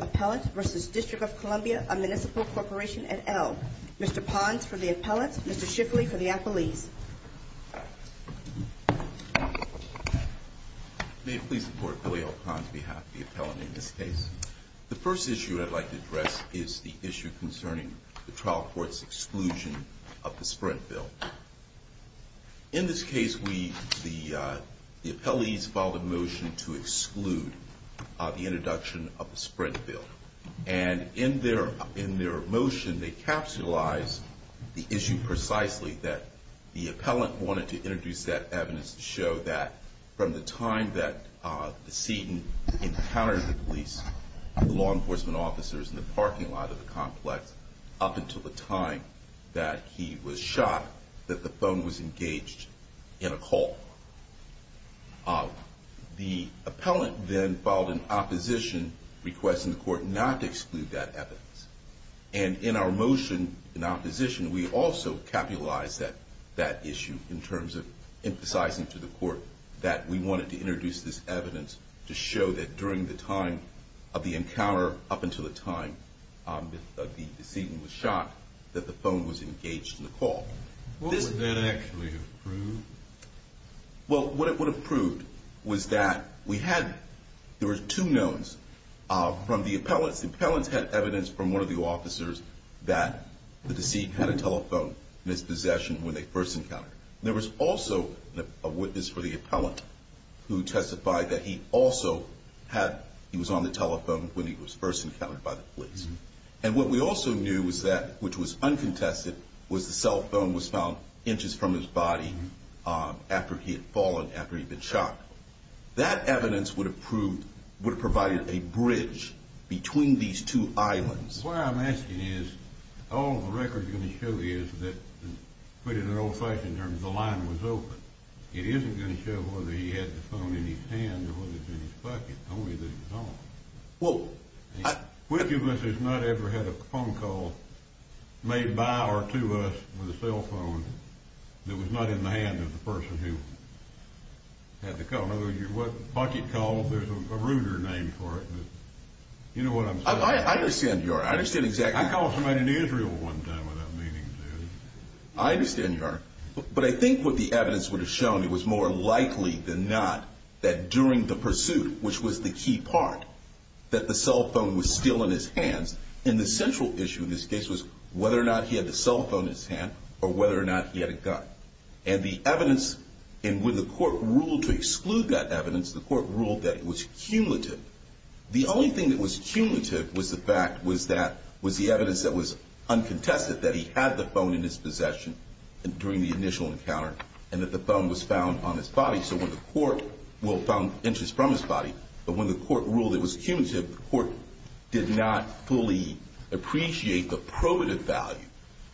Appellant v. District of Columbia, A Municipal Corporation et al. Mr. Pons for the Appellant, Mr. Shifley for the Appellees. May it please the Court, Billy L. Pons, on behalf of the Appellant in this case. The first issue I'd like to address is the issue concerning the trial court's exclusion of the introduction of the Sprint Bill. In this case, the Appellees filed a motion to exclude the introduction of the Sprint Bill. And in their motion, they capsulized the issue precisely that the Appellant wanted to introduce that evidence to show that from the time that Seton encountered the police, the law enforcement officers in the parking lot of the complex up until the time that he was shot, that the phone was engaged in a call. The Appellant then filed an opposition request in the court not to exclude that evidence. And in our motion in opposition, we also capulized that issue in terms of emphasizing to the court that we wanted to introduce this evidence to show that during the time of the encounter up until the time that Seton was shot, that the phone was engaged in the call. What would that actually have proved? Well, what it would have proved was that we had, there were two knowns from the Appellants. The Appellants had evidence from one of the officers that the deceit had a telephone mispossession when they first encountered him. There was also a witness for the Appellant who testified that he also had, he was on the telephone when he was first encountered by the police. And what we also knew was that, which was uncontested, was the cell phone was found inches from his body after he had fallen after he had been shot. That evidence would have proved, would have provided a bridge between these two islands. What I'm asking is, all the record is going to show you is that, put in an old-fashioned terms, the line was open. It isn't going to show whether he had the phone in his hand or whether it was in his pocket, only that it was on. Well, I... Which of us has not ever had a phone call made by or to us with a cell phone that was not in the hand of the person who had the call? In other words, your what, pocket call, there's a ruder name for it, but you know what I'm saying? I understand, Your Honor. I understand exactly how... I called somebody in Israel one time without meaning to. I understand, Your Honor. But I think what the evidence would have shown, it was more likely than not that during the pursuit, which was the key part, that the cell phone was still in his hands. And the central issue in this case was whether or not he had the cell phone in his hand or whether or not he had a gun. And the evidence, and when the court ruled to exclude that evidence, the court ruled that it was cumulative. The only thing that was cumulative was the fact was that, was the evidence that was uncontested, that he had the phone in his possession during the initial encounter and that the phone was found on his body. So when the court will found interest from his body, but when the court ruled it was cumulative, the court did not fully appreciate the probative value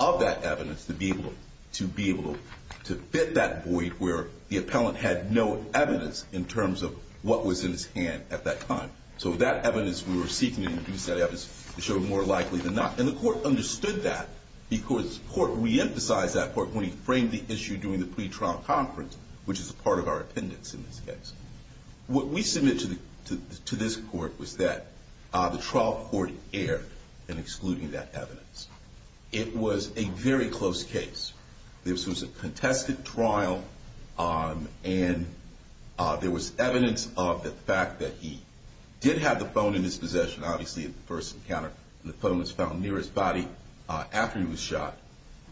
of that evidence to be able to fit that void where the appellant had no evidence in terms of what was in his hand at that time. So that evidence we were seeking to reduce that evidence, it showed more likely than not. And the court understood that because the court re-emphasized that court when he framed the issue during the pretrial conference, which is a part of our appendix in this case. What we submit to this court was that the trial court erred in excluding that evidence. It was a very close case. This was a contested trial, and there was evidence of the fact that he did have the phone in his possession, obviously, at the first encounter. And the phone was found near his body after he was shot.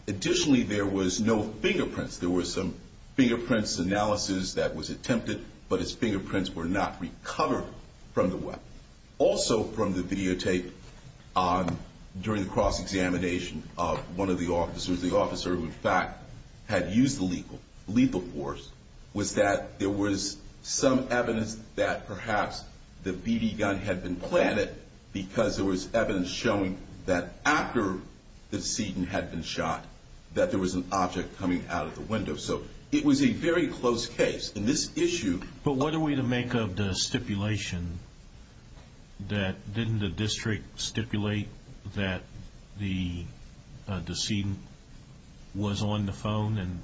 Additionally, there was no fingerprints. There was some fingerprints analysis that was attempted, but his fingerprints were not recovered from the weapon. Also from the videotape during the cross-examination of one of the officers, the officer who in fact had used the lethal force, was that there was some evidence that perhaps the BB gun had been planted because there was evidence showing that after the decedent had been shot, that there was an object coming out of the window. So it was a very close case. But what are we to make of the stipulation that didn't the district stipulate that the decedent was on the phone?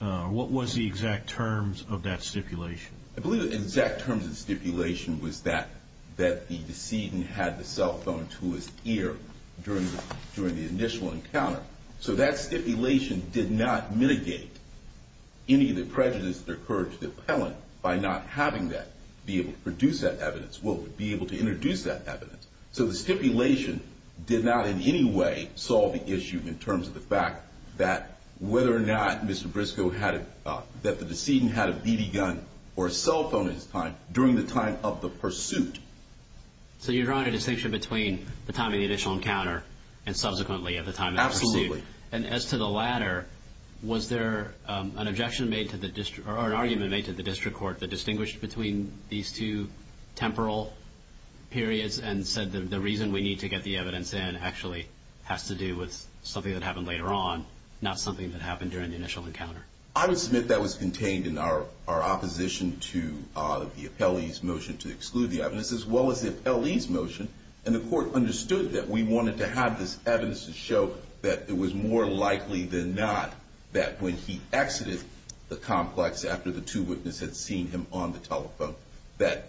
And what was the exact terms of that stipulation? I believe the exact terms of the stipulation was that the decedent had the cell phone to his ear during the initial encounter. So that stipulation did not mitigate any of the prejudice that occurred to the appellant by not having that, be able to produce that evidence, will be able to introduce that evidence. So the stipulation did not in any way solve the issue in terms of the fact that whether or not Mr. Briscoe had, that the decedent had a BB gun or a cell phone in his time during the time of the pursuit. So you're drawing a distinction between the time of the initial encounter and subsequently of the time of the pursuit. Absolutely. And as to the latter, was there an objection made to the district, or an argument made to the district court that distinguished between these two temporal periods and said the reason we need to get the evidence in actually has to do with something that happened later on, not something that happened during the initial encounter? I would submit that was contained in our opposition to the appellee's motion to exclude the evidence, as well as the appellee's motion. And the court understood that we wanted to have this evidence to show that it was more likely than not that when he exited the complex after the two witnesses had seen him on the telephone, that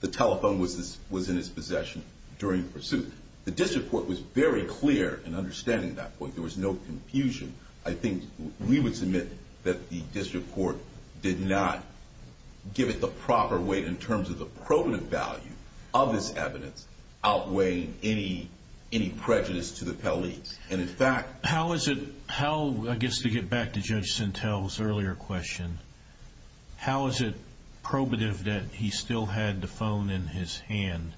the telephone was in his possession during the pursuit. The district court was very clear in understanding that point. There was no confusion. I think we would submit that the district court did not give it the proper weight in terms of the probative value of this evidence outweighing any prejudice to the appellee. And in fact... How is it, I guess to get back to Judge Sintel's earlier question, how is it probative that he still had the phone in his hand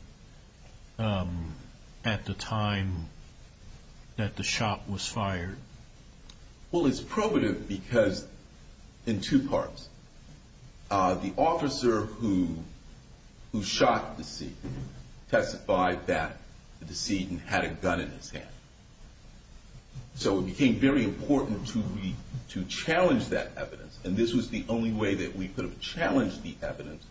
at the time that the shot was fired? Well, it's probative because in two parts. The officer who shot the decedent testified that the decedent had a gun in his hand. So it became very important to challenge that evidence, and this was the only way that we could have challenged the evidence,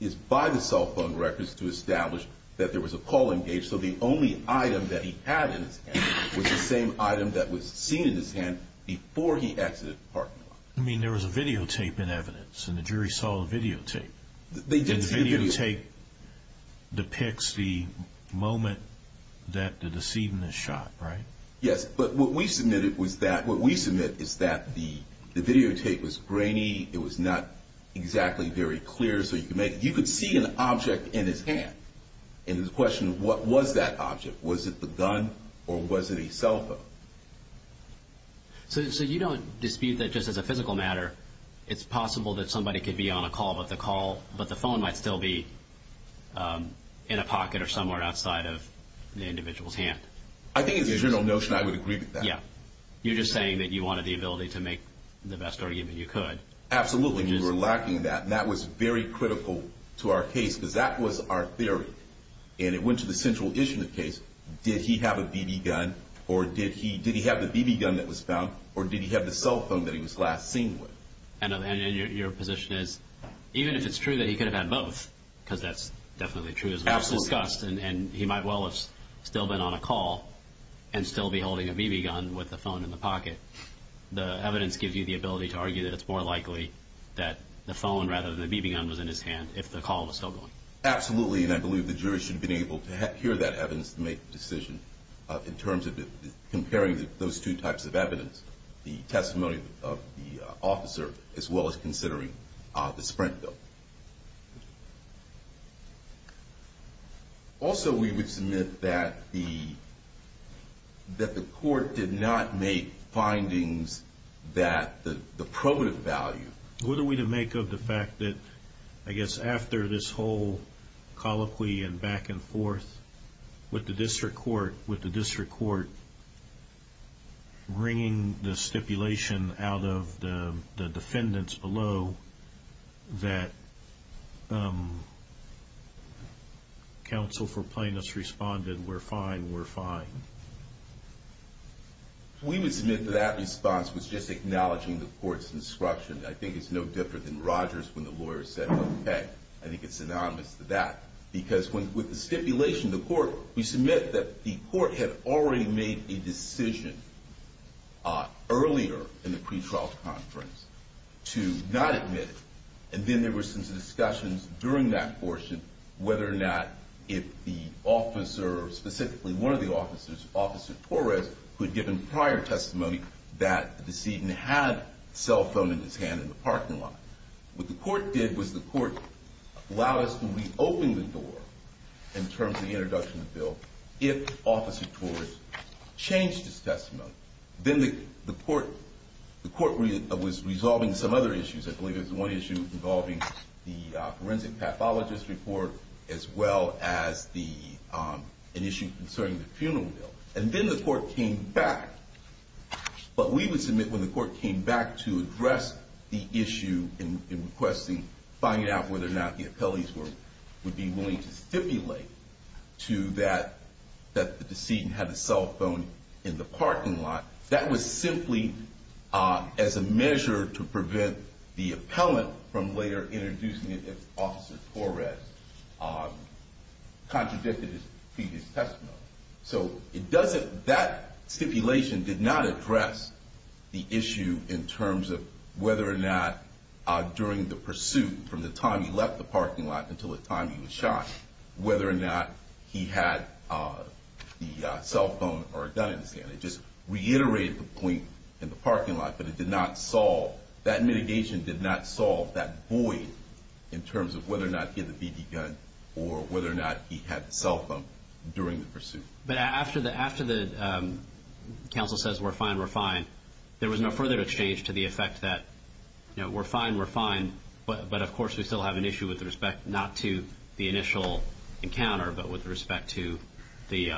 is by the cell phone records to establish that there was a call engaged, so the only item that he had in his hand was the same item that was seen in his hand before he exited the parking lot. I mean, there was a videotape in evidence, and the jury saw the videotape. The videotape depicts the moment that the decedent was shot, right? Yes, but what we submit is that the videotape was grainy. It was not exactly very clear. You could see an object in his hand, and the question was, what was that object? Was it the gun or was it a cell phone? So you don't dispute that just as a physical matter, it's possible that somebody could be on a call about the call, but the phone might still be in a pocket or somewhere outside of the individual's hand. I think it's a general notion I would agree with that. Yeah. You're just saying that you wanted the ability to make the best argument you could. Absolutely. We were lacking that, and that was very critical to our case because that was our theory, and it went to the central issue in the case. Did he have a BB gun, or did he have the BB gun that was found, or did he have the cell phone that he was last seen with? And your position is even if it's true that he could have had both, because that's definitely true as well, and he might well have still been on a call and still be holding a BB gun with the phone in the pocket, the evidence gives you the ability to argue that it's more likely that the phone rather than the BB gun was in his hand if the call was still going. Absolutely, and I believe the jury should have been able to hear that evidence to make the decision in terms of comparing those two types of evidence, the testimony of the officer as well as considering the Sprint bill. Also, we would submit that the court did not make findings that the probative value. What are we to make of the fact that, I guess, after this whole colloquy and back and forth with the district court, with the district court bringing the stipulation out of the defendants below that counsel for plaintiffs responded, we're fine, we're fine? We would submit that that response was just acknowledging the court's instruction. I think it's no different than Rogers when the lawyer said, okay, I think it's synonymous to that, because with the stipulation, the court, we submit that the court had already made a decision earlier in the pretrial conference to not admit it, and then there were some discussions during that portion whether or not if the officer, specifically one of the officers, Officer Torres, who had given prior testimony that the decedent had a cell phone in his hand in the parking lot. What the court did was the court allowed us to reopen the door in terms of the introduction of the bill if Officer Torres changed his testimony. Then the court was resolving some other issues. I believe it was one issue involving the forensic pathologist report as well as an issue concerning the funeral bill. Then the court came back, but we would submit when the court came back to address the issue in requesting, finding out whether or not the appellees would be willing to stipulate that the decedent had a cell phone in the parking lot, that was simply as a measure to prevent the appellant from later introducing it if Officer Torres contradicted his previous testimony. That stipulation did not address the issue in terms of whether or not during the pursuit from the time he left the parking lot until the time he was shot, whether or not he had the cell phone or a gun in his hand. It just reiterated the point in the parking lot, but it did not solve, that mitigation did not solve that void in terms of whether or not he had a BB gun or whether or not he had the cell phone during the pursuit. But after the counsel says we're fine, we're fine, there was no further exchange to the effect that we're fine, we're fine, but of course we still have an issue with respect not to the initial encounter, but with respect to the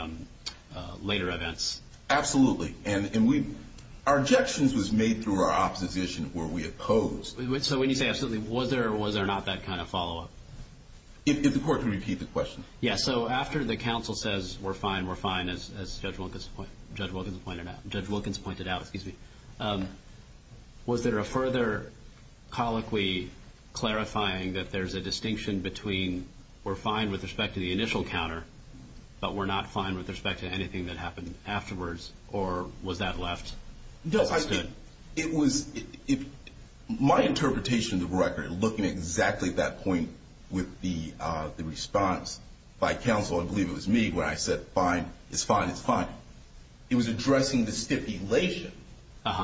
later events. Absolutely, and our objections was made through our opposition where we opposed. So when you say absolutely, was there or was there not that kind of follow-up? If the court can repeat the question. Yes, so after the counsel says we're fine, we're fine, as Judge Wilkins pointed out, was there a further colloquy clarifying that there's a distinction between we're fine with respect to the initial encounter, but we're not fine with respect to anything that happened afterwards, or was that left? My interpretation of the record looking at exactly that point with the response by counsel, I believe it was me when I said fine, it's fine, it's fine, it was addressing the stipulation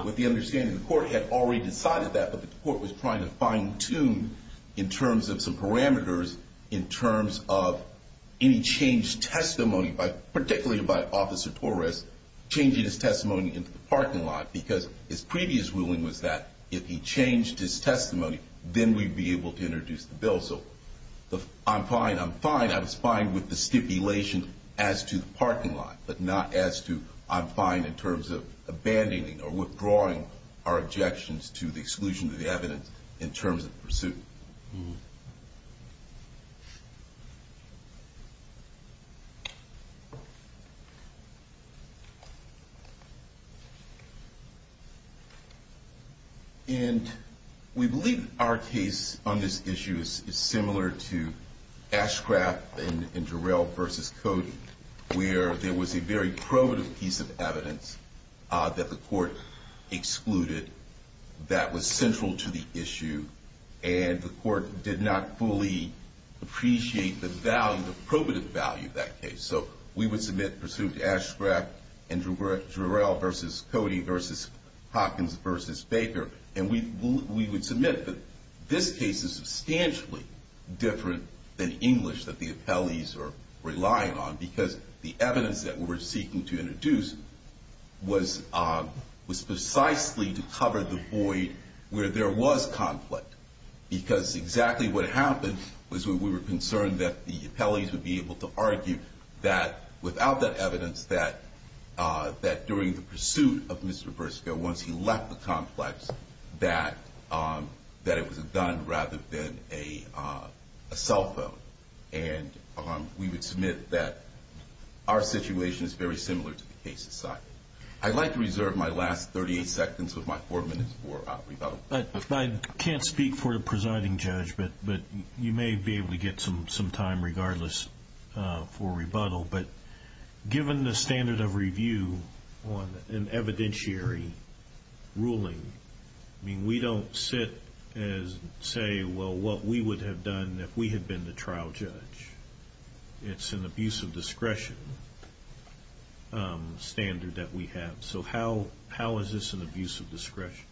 with the understanding the court had already decided that, but the court was trying to fine-tune in terms of some parameters in terms of any changed testimony, particularly by Officer Torres changing his testimony into the parking lot, because his previous ruling was that if he changed his testimony, then we'd be able to introduce the bill. So I'm fine, I'm fine, I was fine with the stipulation as to the parking lot, but not as to I'm fine in terms of abandoning or withdrawing our objections to the exclusion of the evidence in terms of pursuit. And we believe our case on this issue is similar to Ashcraft and Jarrell v. Cody, where there was a very probative piece of evidence that the court excluded that was central to the issue, and the court did not fully appreciate the value, the probative value of that case. So we would submit pursuit to Ashcraft and Jarrell v. Cody v. Hopkins v. Baker, and we would submit that this case is substantially different than English that the appellees are relying on, because the evidence that we were seeking to introduce was precisely to cover the void where there was conflict, because exactly what happened was we were concerned that the appellees would be able to argue that, without that evidence, that during the pursuit of Mr. Berskow, once he left the complex, that it was a gun rather than a cell phone. And we would submit that our situation is very similar to the case aside. I'd like to reserve my last 38 seconds of my four minutes for rebuttal. I can't speak for the presiding judge, but you may be able to get some time regardless for rebuttal. But given the standard of review on an evidentiary ruling, I mean, we don't sit and say, well, what we would have done if we had been the trial judge. It's an abuse of discretion standard that we have. So how is this an abuse of discretion?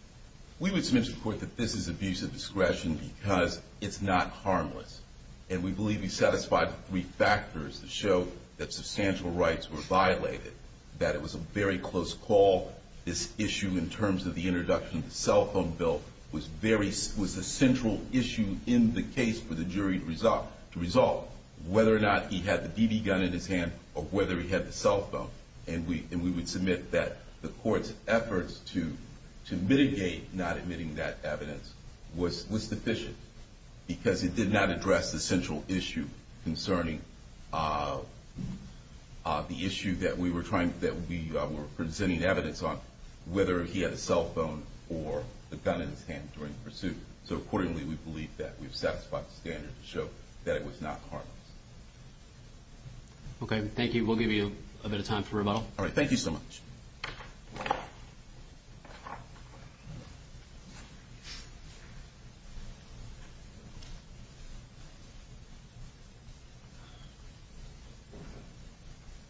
We would submit to the court that this is abuse of discretion because it's not harmless. And we believe we satisfied three factors that show that substantial rights were violated, that it was a very close call. This issue in terms of the introduction of the cell phone bill was a central issue in the case for the jury to resolve, whether or not he had the BB gun in his hand or whether he had the cell phone. And we would submit that the court's efforts to mitigate not admitting that evidence was deficient because it did not address the central issue concerning the issue that we were presenting evidence on, whether he had a cell phone or the gun in his hand during the pursuit. So accordingly, we believe that we've satisfied the standard to show that it was not harmless. Okay. Thank you. We'll give you a bit of time for rebuttal. All right. Thank you so much.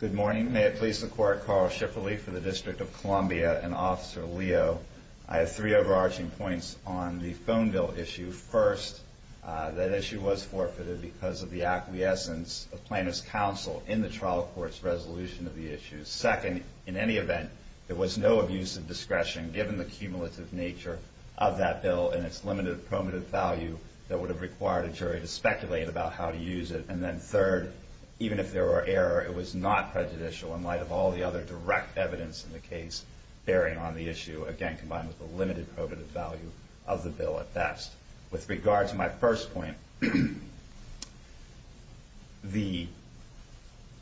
Good morning. May it please the Court, Carl Schifferle for the District of Columbia and Officer Leo. I have three overarching points on the phone bill issue. First, that issue was forfeited because of the acquiescence of plaintiff's counsel in the trial court's resolution of the issue. Second, in any event, there was no abuse of discretion given the cumulative nature of that bill and its limited probative value that would have required a jury to speculate about how to use it. And then third, even if there were error, it was not prejudicial in light of all the other direct evidence in the case bearing on the issue, again, combined with the limited probative value of the bill at best. With regard to my first point, the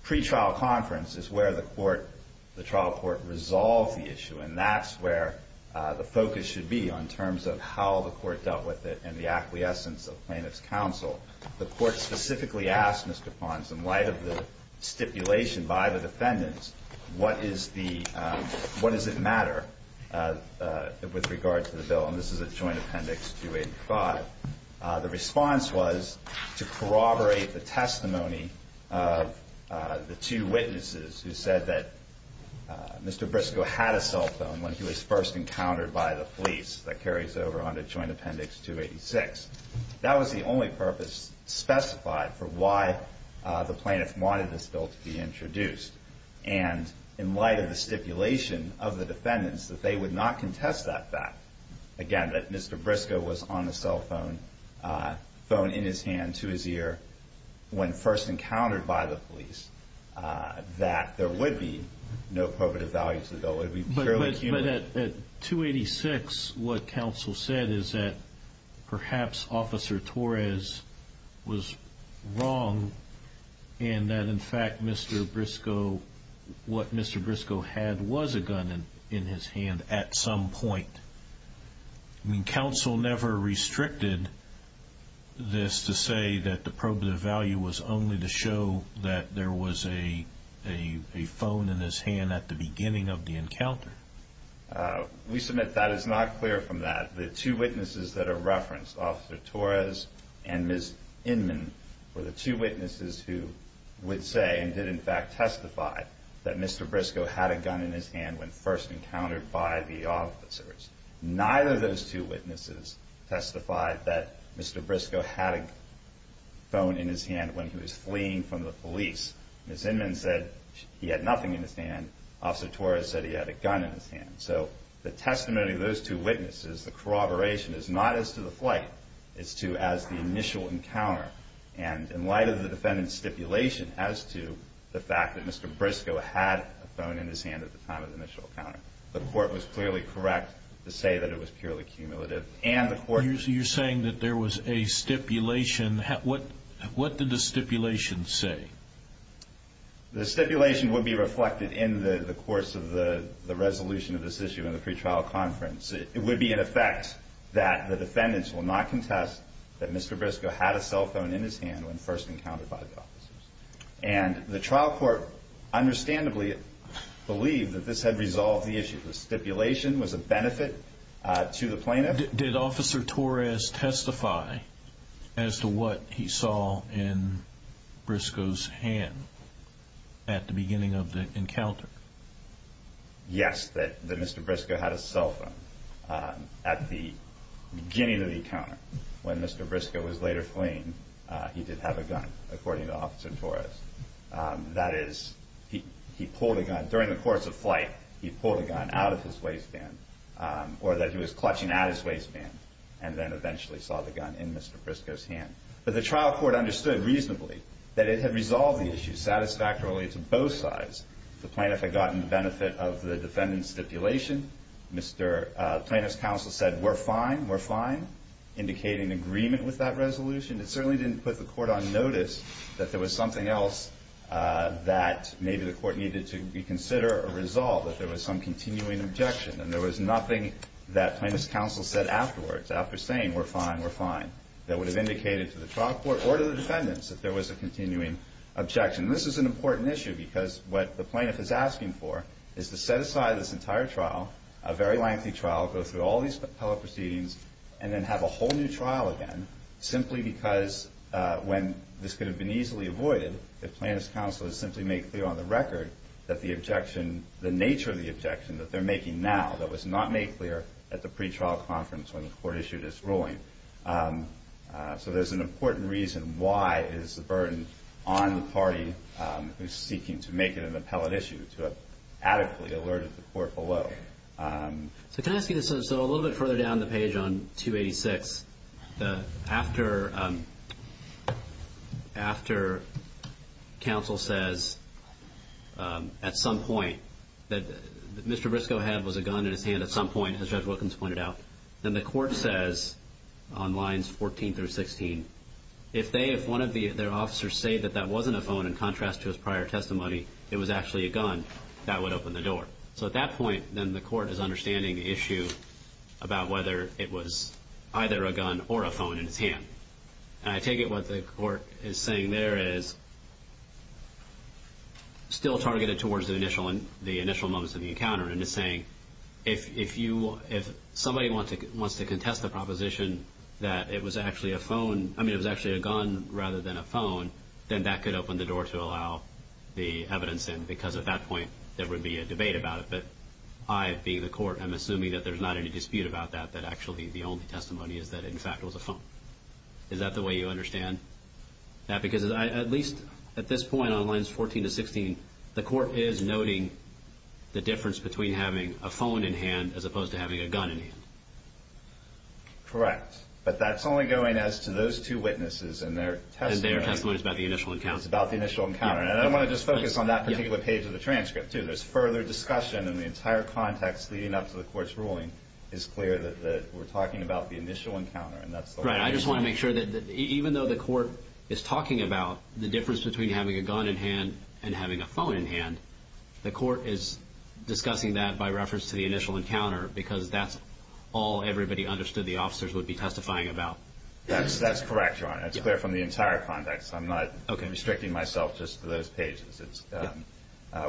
pretrial conference is where the trial court resolves the issue, and that's where the focus should be in terms of how the court dealt with it and the acquiescence of plaintiff's counsel. The court specifically asked Mr. Pons, in light of the stipulation by the defendants, what does it matter with regard to the bill? And this is at Joint Appendix 285. The response was to corroborate the testimony of the two witnesses who said that Mr. Briscoe had a cell phone when he was first encountered by the police. That carries over onto Joint Appendix 286. That was the only purpose specified for why the plaintiff wanted this bill to be introduced. And in light of the stipulation of the defendants that they would not contest that fact, again, that Mr. Briscoe was on a cell phone in his hand to his ear when first encountered by the police, that there would be no probative value to the bill. It would be purely cumulative. But at 286, what counsel said is that perhaps Officer Torres was wrong and that, in fact, what Mr. Briscoe had was a gun in his hand at some point. I mean, counsel never restricted this to say that the probative value was only to show that there was a phone in his hand at the beginning of the encounter. We submit that is not clear from that. The two witnesses that are referenced, Officer Torres and Ms. Inman, were the two witnesses who would say and did, in fact, testify that Mr. Briscoe had a gun in his hand when first encountered by the officers. Neither of those two witnesses testified that Mr. Briscoe had a phone in his hand when he was fleeing from the police. Ms. Inman said he had nothing in his hand. Officer Torres said he had a gun in his hand. So the testimony of those two witnesses, the corroboration is not as to the flight, it's to as the initial encounter. And in light of the defendant's stipulation as to the fact that Mr. Briscoe had a phone in his hand at the time of the initial encounter, the court was clearly correct to say that it was purely cumulative. You're saying that there was a stipulation. What did the stipulation say? The stipulation would be reflected in the course of the resolution of this issue in the pretrial conference. It would be in effect that the defendants will not contest that Mr. Briscoe had a cell phone in his hand when first encountered by the officers. And the trial court understandably believed that this had resolved the issue. The stipulation was a benefit to the plaintiff. Did Officer Torres testify as to what he saw in Briscoe's hand at the beginning of the encounter? Yes, that Mr. Briscoe had a cell phone at the beginning of the encounter. When Mr. Briscoe was later fleeing, he did have a gun, according to Officer Torres. That is, he pulled a gun. During the course of flight, he pulled a gun out of his waistband or that he was clutching at his waistband and then eventually saw the gun in Mr. Briscoe's hand. But the trial court understood reasonably that it had resolved the issue satisfactorily to both sides. The plaintiff had gotten the benefit of the defendant's stipulation. The plaintiff's counsel said, we're fine, we're fine, indicating agreement with that resolution. It certainly didn't put the court on notice that there was something else that maybe the court needed to reconsider or resolve, that there was some continuing objection. And there was nothing that plaintiff's counsel said afterwards, after saying, we're fine, we're fine, that would have indicated to the trial court or to the defendants that there was a continuing objection. This is an important issue because what the plaintiff is asking for is to set aside this entire trial, a very lengthy trial, go through all these appellate proceedings, and then have a whole new trial again, simply because when this could have been easily avoided, if plaintiff's counsel had simply made clear on the record that the objection, the nature of the objection that they're making now, that was not made clear at the pretrial conference when the court issued its ruling. So there's an important reason why it is a burden on the party who's seeking to make it an appellate issue to have adequately alerted the court below. So can I ask you this? So a little bit further down the page on 286, after counsel says at some point that Mr. Briscoe had was a gun in his hand at some point, as Judge Wilkins pointed out, then the court says on lines 14 through 16, if one of their officers say that that wasn't a phone in contrast to his prior testimony, it was actually a gun, that would open the door. So at that point, then the court is understanding the issue about whether it was either a gun or a phone in his hand. And I take it what the court is saying there is still targeted towards the initial moments of the encounter and is saying if somebody wants to contest the proposition that it was actually a phone, I mean it was actually a gun rather than a phone, then that could open the door to allow the evidence in, because at that point there would be a debate about it. But I, being the court, am assuming that there's not any dispute about that, that actually the only testimony is that in fact it was a phone. Is that the way you understand that? Because at least at this point on lines 14 to 16, the court is noting the difference between having a phone in hand as opposed to having a gun in hand. Correct. But that's only going as to those two witnesses and their testimony. And their testimony is about the initial encounter. It's about the initial encounter. And I want to just focus on that particular page of the transcript, too. There's further discussion in the entire context leading up to the court's ruling. It's clear that we're talking about the initial encounter. Right. I just want to make sure that even though the court is talking about the difference between having a gun in hand and having a phone in hand, the court is discussing that by reference to the initial encounter because that's all everybody understood the officers would be testifying about. That's correct, Your Honor. It's clear from the entire context. I'm not restricting myself just to those pages.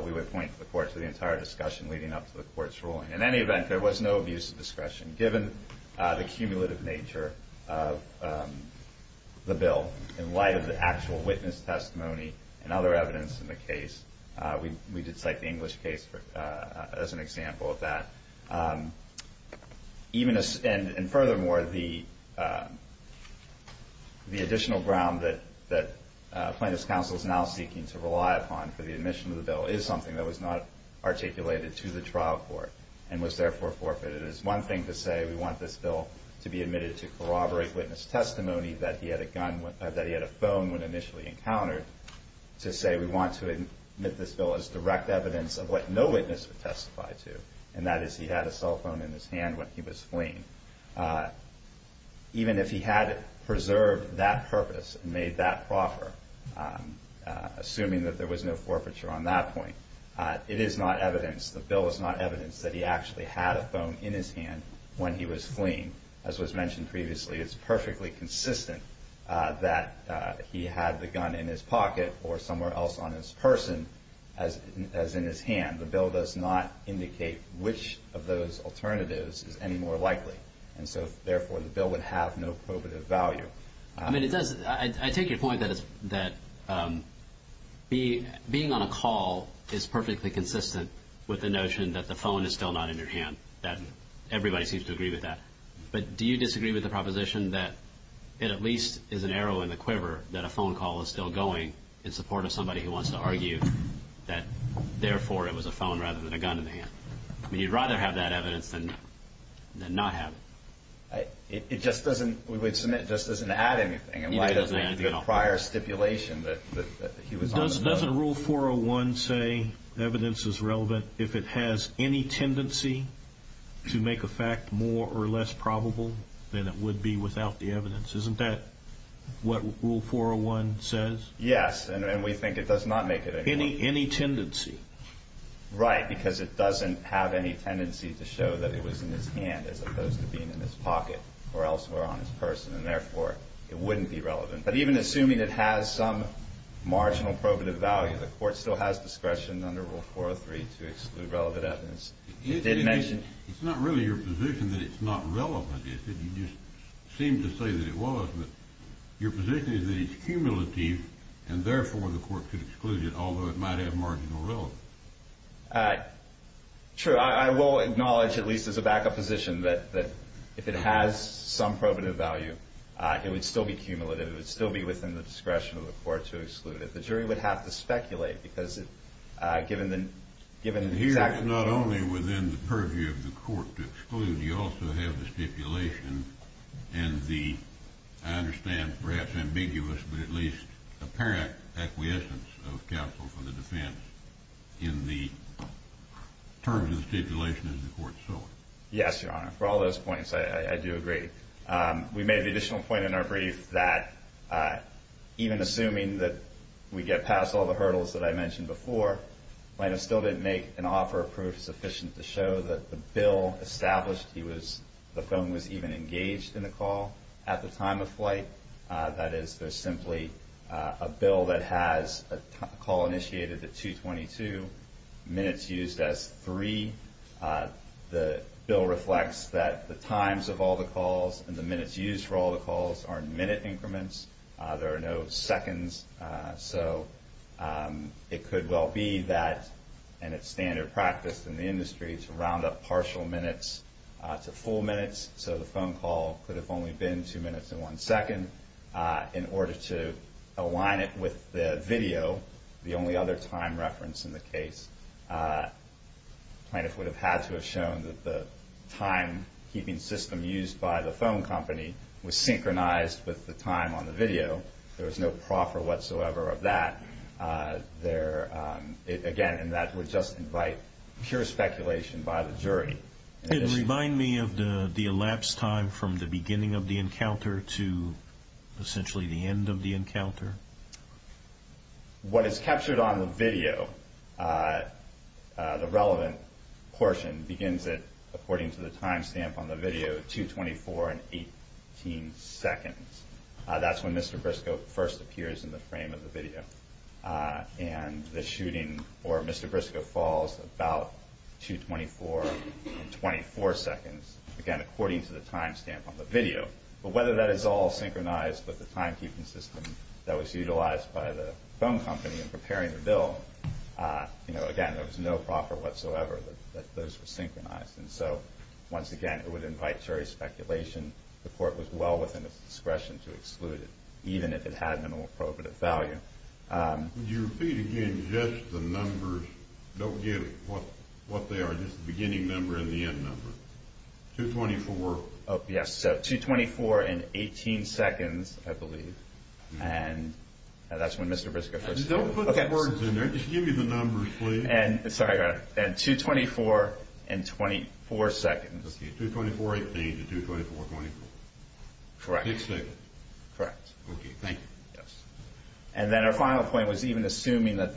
We would point to the court for the entire discussion leading up to the court's ruling. In any event, there was no abuse of discretion given the cumulative nature of the bill in light of the actual witness testimony and other evidence in the case. We did cite the English case as an example of that. Furthermore, the additional ground that Plaintiff's counsel is now seeking to rely upon for the admission of the bill is something that was not articulated to the trial court and was therefore forfeited. It is one thing to say we want this bill to be admitted to corroborate witness testimony that he had a phone when initially encountered, to say we want to admit this bill as direct evidence of what no witness would testify to, and that is he had a cell phone in his hand when he was fleeing. Even if he had preserved that purpose and made that proffer, assuming that there was no forfeiture on that point, it is not evidence, the bill is not evidence, that he actually had a phone in his hand when he was fleeing. As was mentioned previously, it's perfectly consistent that he had the gun in his pocket or somewhere else on his person as in his hand. The bill does not indicate which of those alternatives is any more likely, and so therefore the bill would have no probative value. I mean, I take your point that being on a call is perfectly consistent with the notion that the phone is still not in your hand, that everybody seems to agree with that. But do you disagree with the proposition that it at least is an arrow in the quiver that a phone call is still going in support of somebody who wants to argue that therefore it was a phone rather than a gun in the hand? I mean, you'd rather have that evidence than not have it. It just doesn't add anything. It doesn't make the prior stipulation that he was on the run. Doesn't Rule 401 say evidence is relevant if it has any tendency to make a fact more or less probable than it would be without the evidence? Isn't that what Rule 401 says? Yes, and we think it does not make it any more probable. Any tendency? Right, because it doesn't have any tendency to show that it was in his hand as opposed to being in his pocket or elsewhere on his person, and therefore it wouldn't be relevant. But even assuming it has some marginal probative value, the Court still has discretion under Rule 403 to exclude relevant evidence. It did mention... It's not really your position that it's not relevant. You just seemed to say that it was. Your position is that it's cumulative, Steve, and therefore the Court could exclude it, although it might have marginal relevance. True. I will acknowledge, at least as a back-up position, that if it has some probative value, it would still be cumulative. It would still be within the discretion of the Court to exclude it. The jury would have to speculate, because given the exact... Here, not only within the purview of the Court to exclude, you also have the stipulation and the, I understand, perhaps ambiguous but at least apparent acquiescence of counsel for the defense in the terms of the stipulation as the Court saw it. Yes, Your Honor. For all those points, I do agree. We made the additional point in our brief that, even assuming that we get past all the hurdles that I mentioned before, Plano still didn't make an offer of proof sufficient to show that the bill established he was... at the time of flight. That is, there's simply a bill that has a call initiated at 2.22, minutes used as three. The bill reflects that the times of all the calls and the minutes used for all the calls are minute increments. There are no seconds. So it could well be that, and it's standard practice in the industry, to round up partial minutes to full minutes so the phone call could have only been two minutes and one second in order to align it with the video, the only other time reference in the case. Plano would have had to have shown that the timekeeping system used by the phone company was synchronized with the time on the video. There was no proffer whatsoever of that. It would remind me of the elapsed time from the beginning of the encounter to essentially the end of the encounter. What is captured on the video, the relevant portion, begins at, according to the time stamp on the video, 2.24 and 18 seconds. That's when Mr. Briscoe first appears in the frame of the video. And the shooting, or Mr. Briscoe, falls about 2.24 and 24 seconds, again, according to the time stamp on the video. But whether that is all synchronized with the timekeeping system that was utilized by the phone company in preparing the bill, again, there was no proffer whatsoever that those were synchronized. Once again, it would invite jury speculation. The court was well within its discretion to exclude it, even if it had minimal profit of value. Would you repeat again just the numbers? Don't give what they are, just the beginning number and the end number. 2.24. Yes, so 2.24 and 18 seconds, I believe. That's when Mr. Briscoe first appeared. Don't put the words in there. Just give me the numbers, please. Sorry, I got it. 2.24 and 24 seconds. 2.24.18 to 2.24.24. Correct. Okay, thank you. And then our final point was even assuming that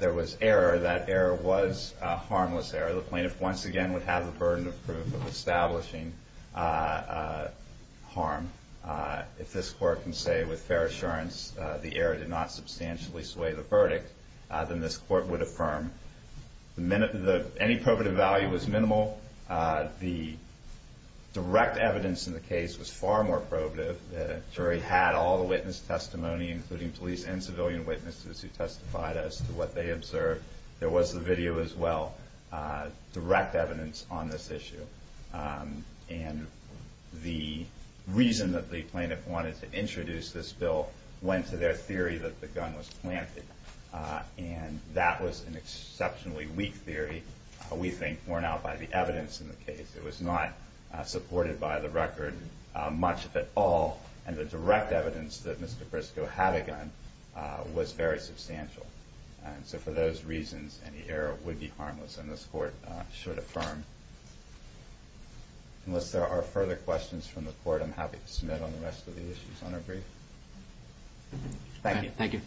there was error, that error was a harmless error. The plaintiff, once again, would have the burden of proof of establishing harm. If this court can say with fair assurance the error did not substantially sway the verdict, then this court would affirm. Any probative value was minimal. The direct evidence in the case was far more probative. The jury had all the witness testimony, including police and civilian witnesses who testified as to what they observed. There was the video as well, direct evidence on this issue. And the reason that the plaintiff wanted to introduce this bill went to their theory that the gun was planted, and that was an exceptionally weak theory, we think, borne out by the evidence in the case. It was not supported by the record much at all, and the direct evidence that Mr. Briscoe had a gun was very substantial. And so for those reasons, any error would be harmless, and this court should affirm. Unless there are further questions from the court, I'm happy to submit on the rest of the issues on our brief. Thank you. Thank you.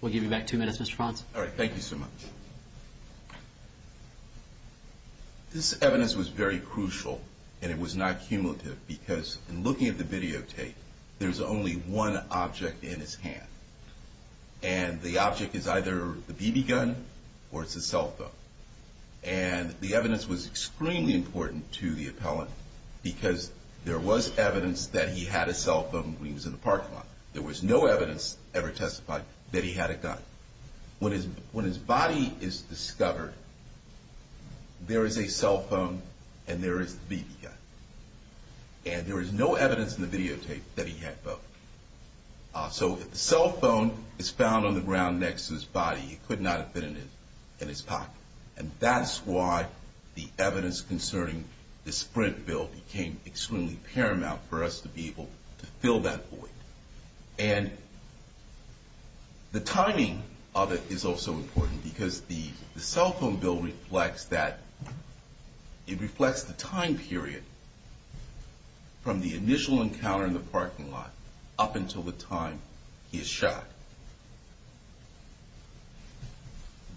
We'll give you back two minutes, Mr. Franz. All right. Thank you so much. This evidence was very crucial, and it was not cumulative, because in looking at the videotape, there's only one object in his hand, and the object is either the BB gun or it's a cell phone. And the evidence was extremely important to the appellant because there was evidence that he had a cell phone when he was in the parking lot. There was no evidence ever testified that he had a gun. When his body is discovered, there is a cell phone and there is the BB gun, and there is no evidence in the videotape that he had both. So if the cell phone is found on the ground next to his body, it could not have been in his pocket, and that's why the evidence concerning the Sprint Bill became extremely paramount for us to be able to fill that void. And the timing of it is also important because the cell phone bill reflects that. It reflects the time period from the initial encounter in the parking lot up until the time he is shot.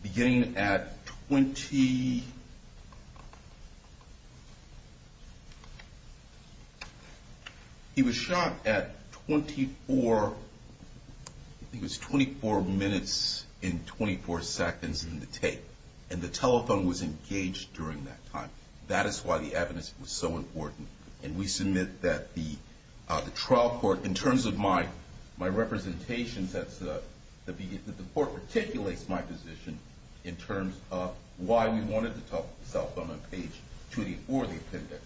Beginning at 20... He was shot at 24 minutes and 24 seconds in the tape, and the telephone was engaged during that time. That is why the evidence was so important, and we submit that the trial court, in terms of my representation, that the court articulates my position in terms of why we wanted the cell phone on page 284 of the appendix.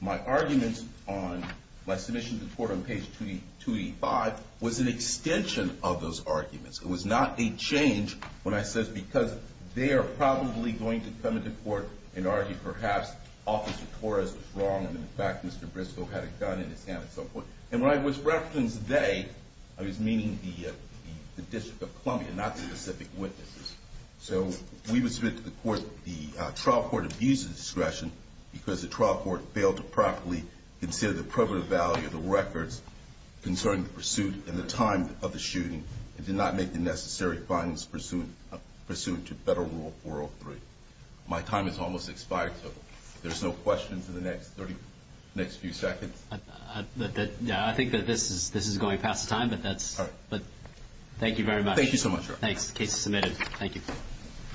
My arguments on my submission to the court on page 285 was an extension of those arguments. It was not a change when I said, because they are probably going to come into court and argue, perhaps Officer Torres was wrong and, in fact, Mr. Briscoe had a gun in his hand at some point. And when I was referencing they, I was meaning the District of Columbia, not specific witnesses. So we would submit to the court that the trial court abuses discretion because the trial court failed to properly consider the provative value of the records concerning the pursuit and the time of the shooting and did not make the necessary findings pursuant to Federal Rule 403. My time has almost expired, so if there are no questions in the next few seconds. I think that this is going past time, but thank you very much. Thank you so much. The case is submitted. Thank you.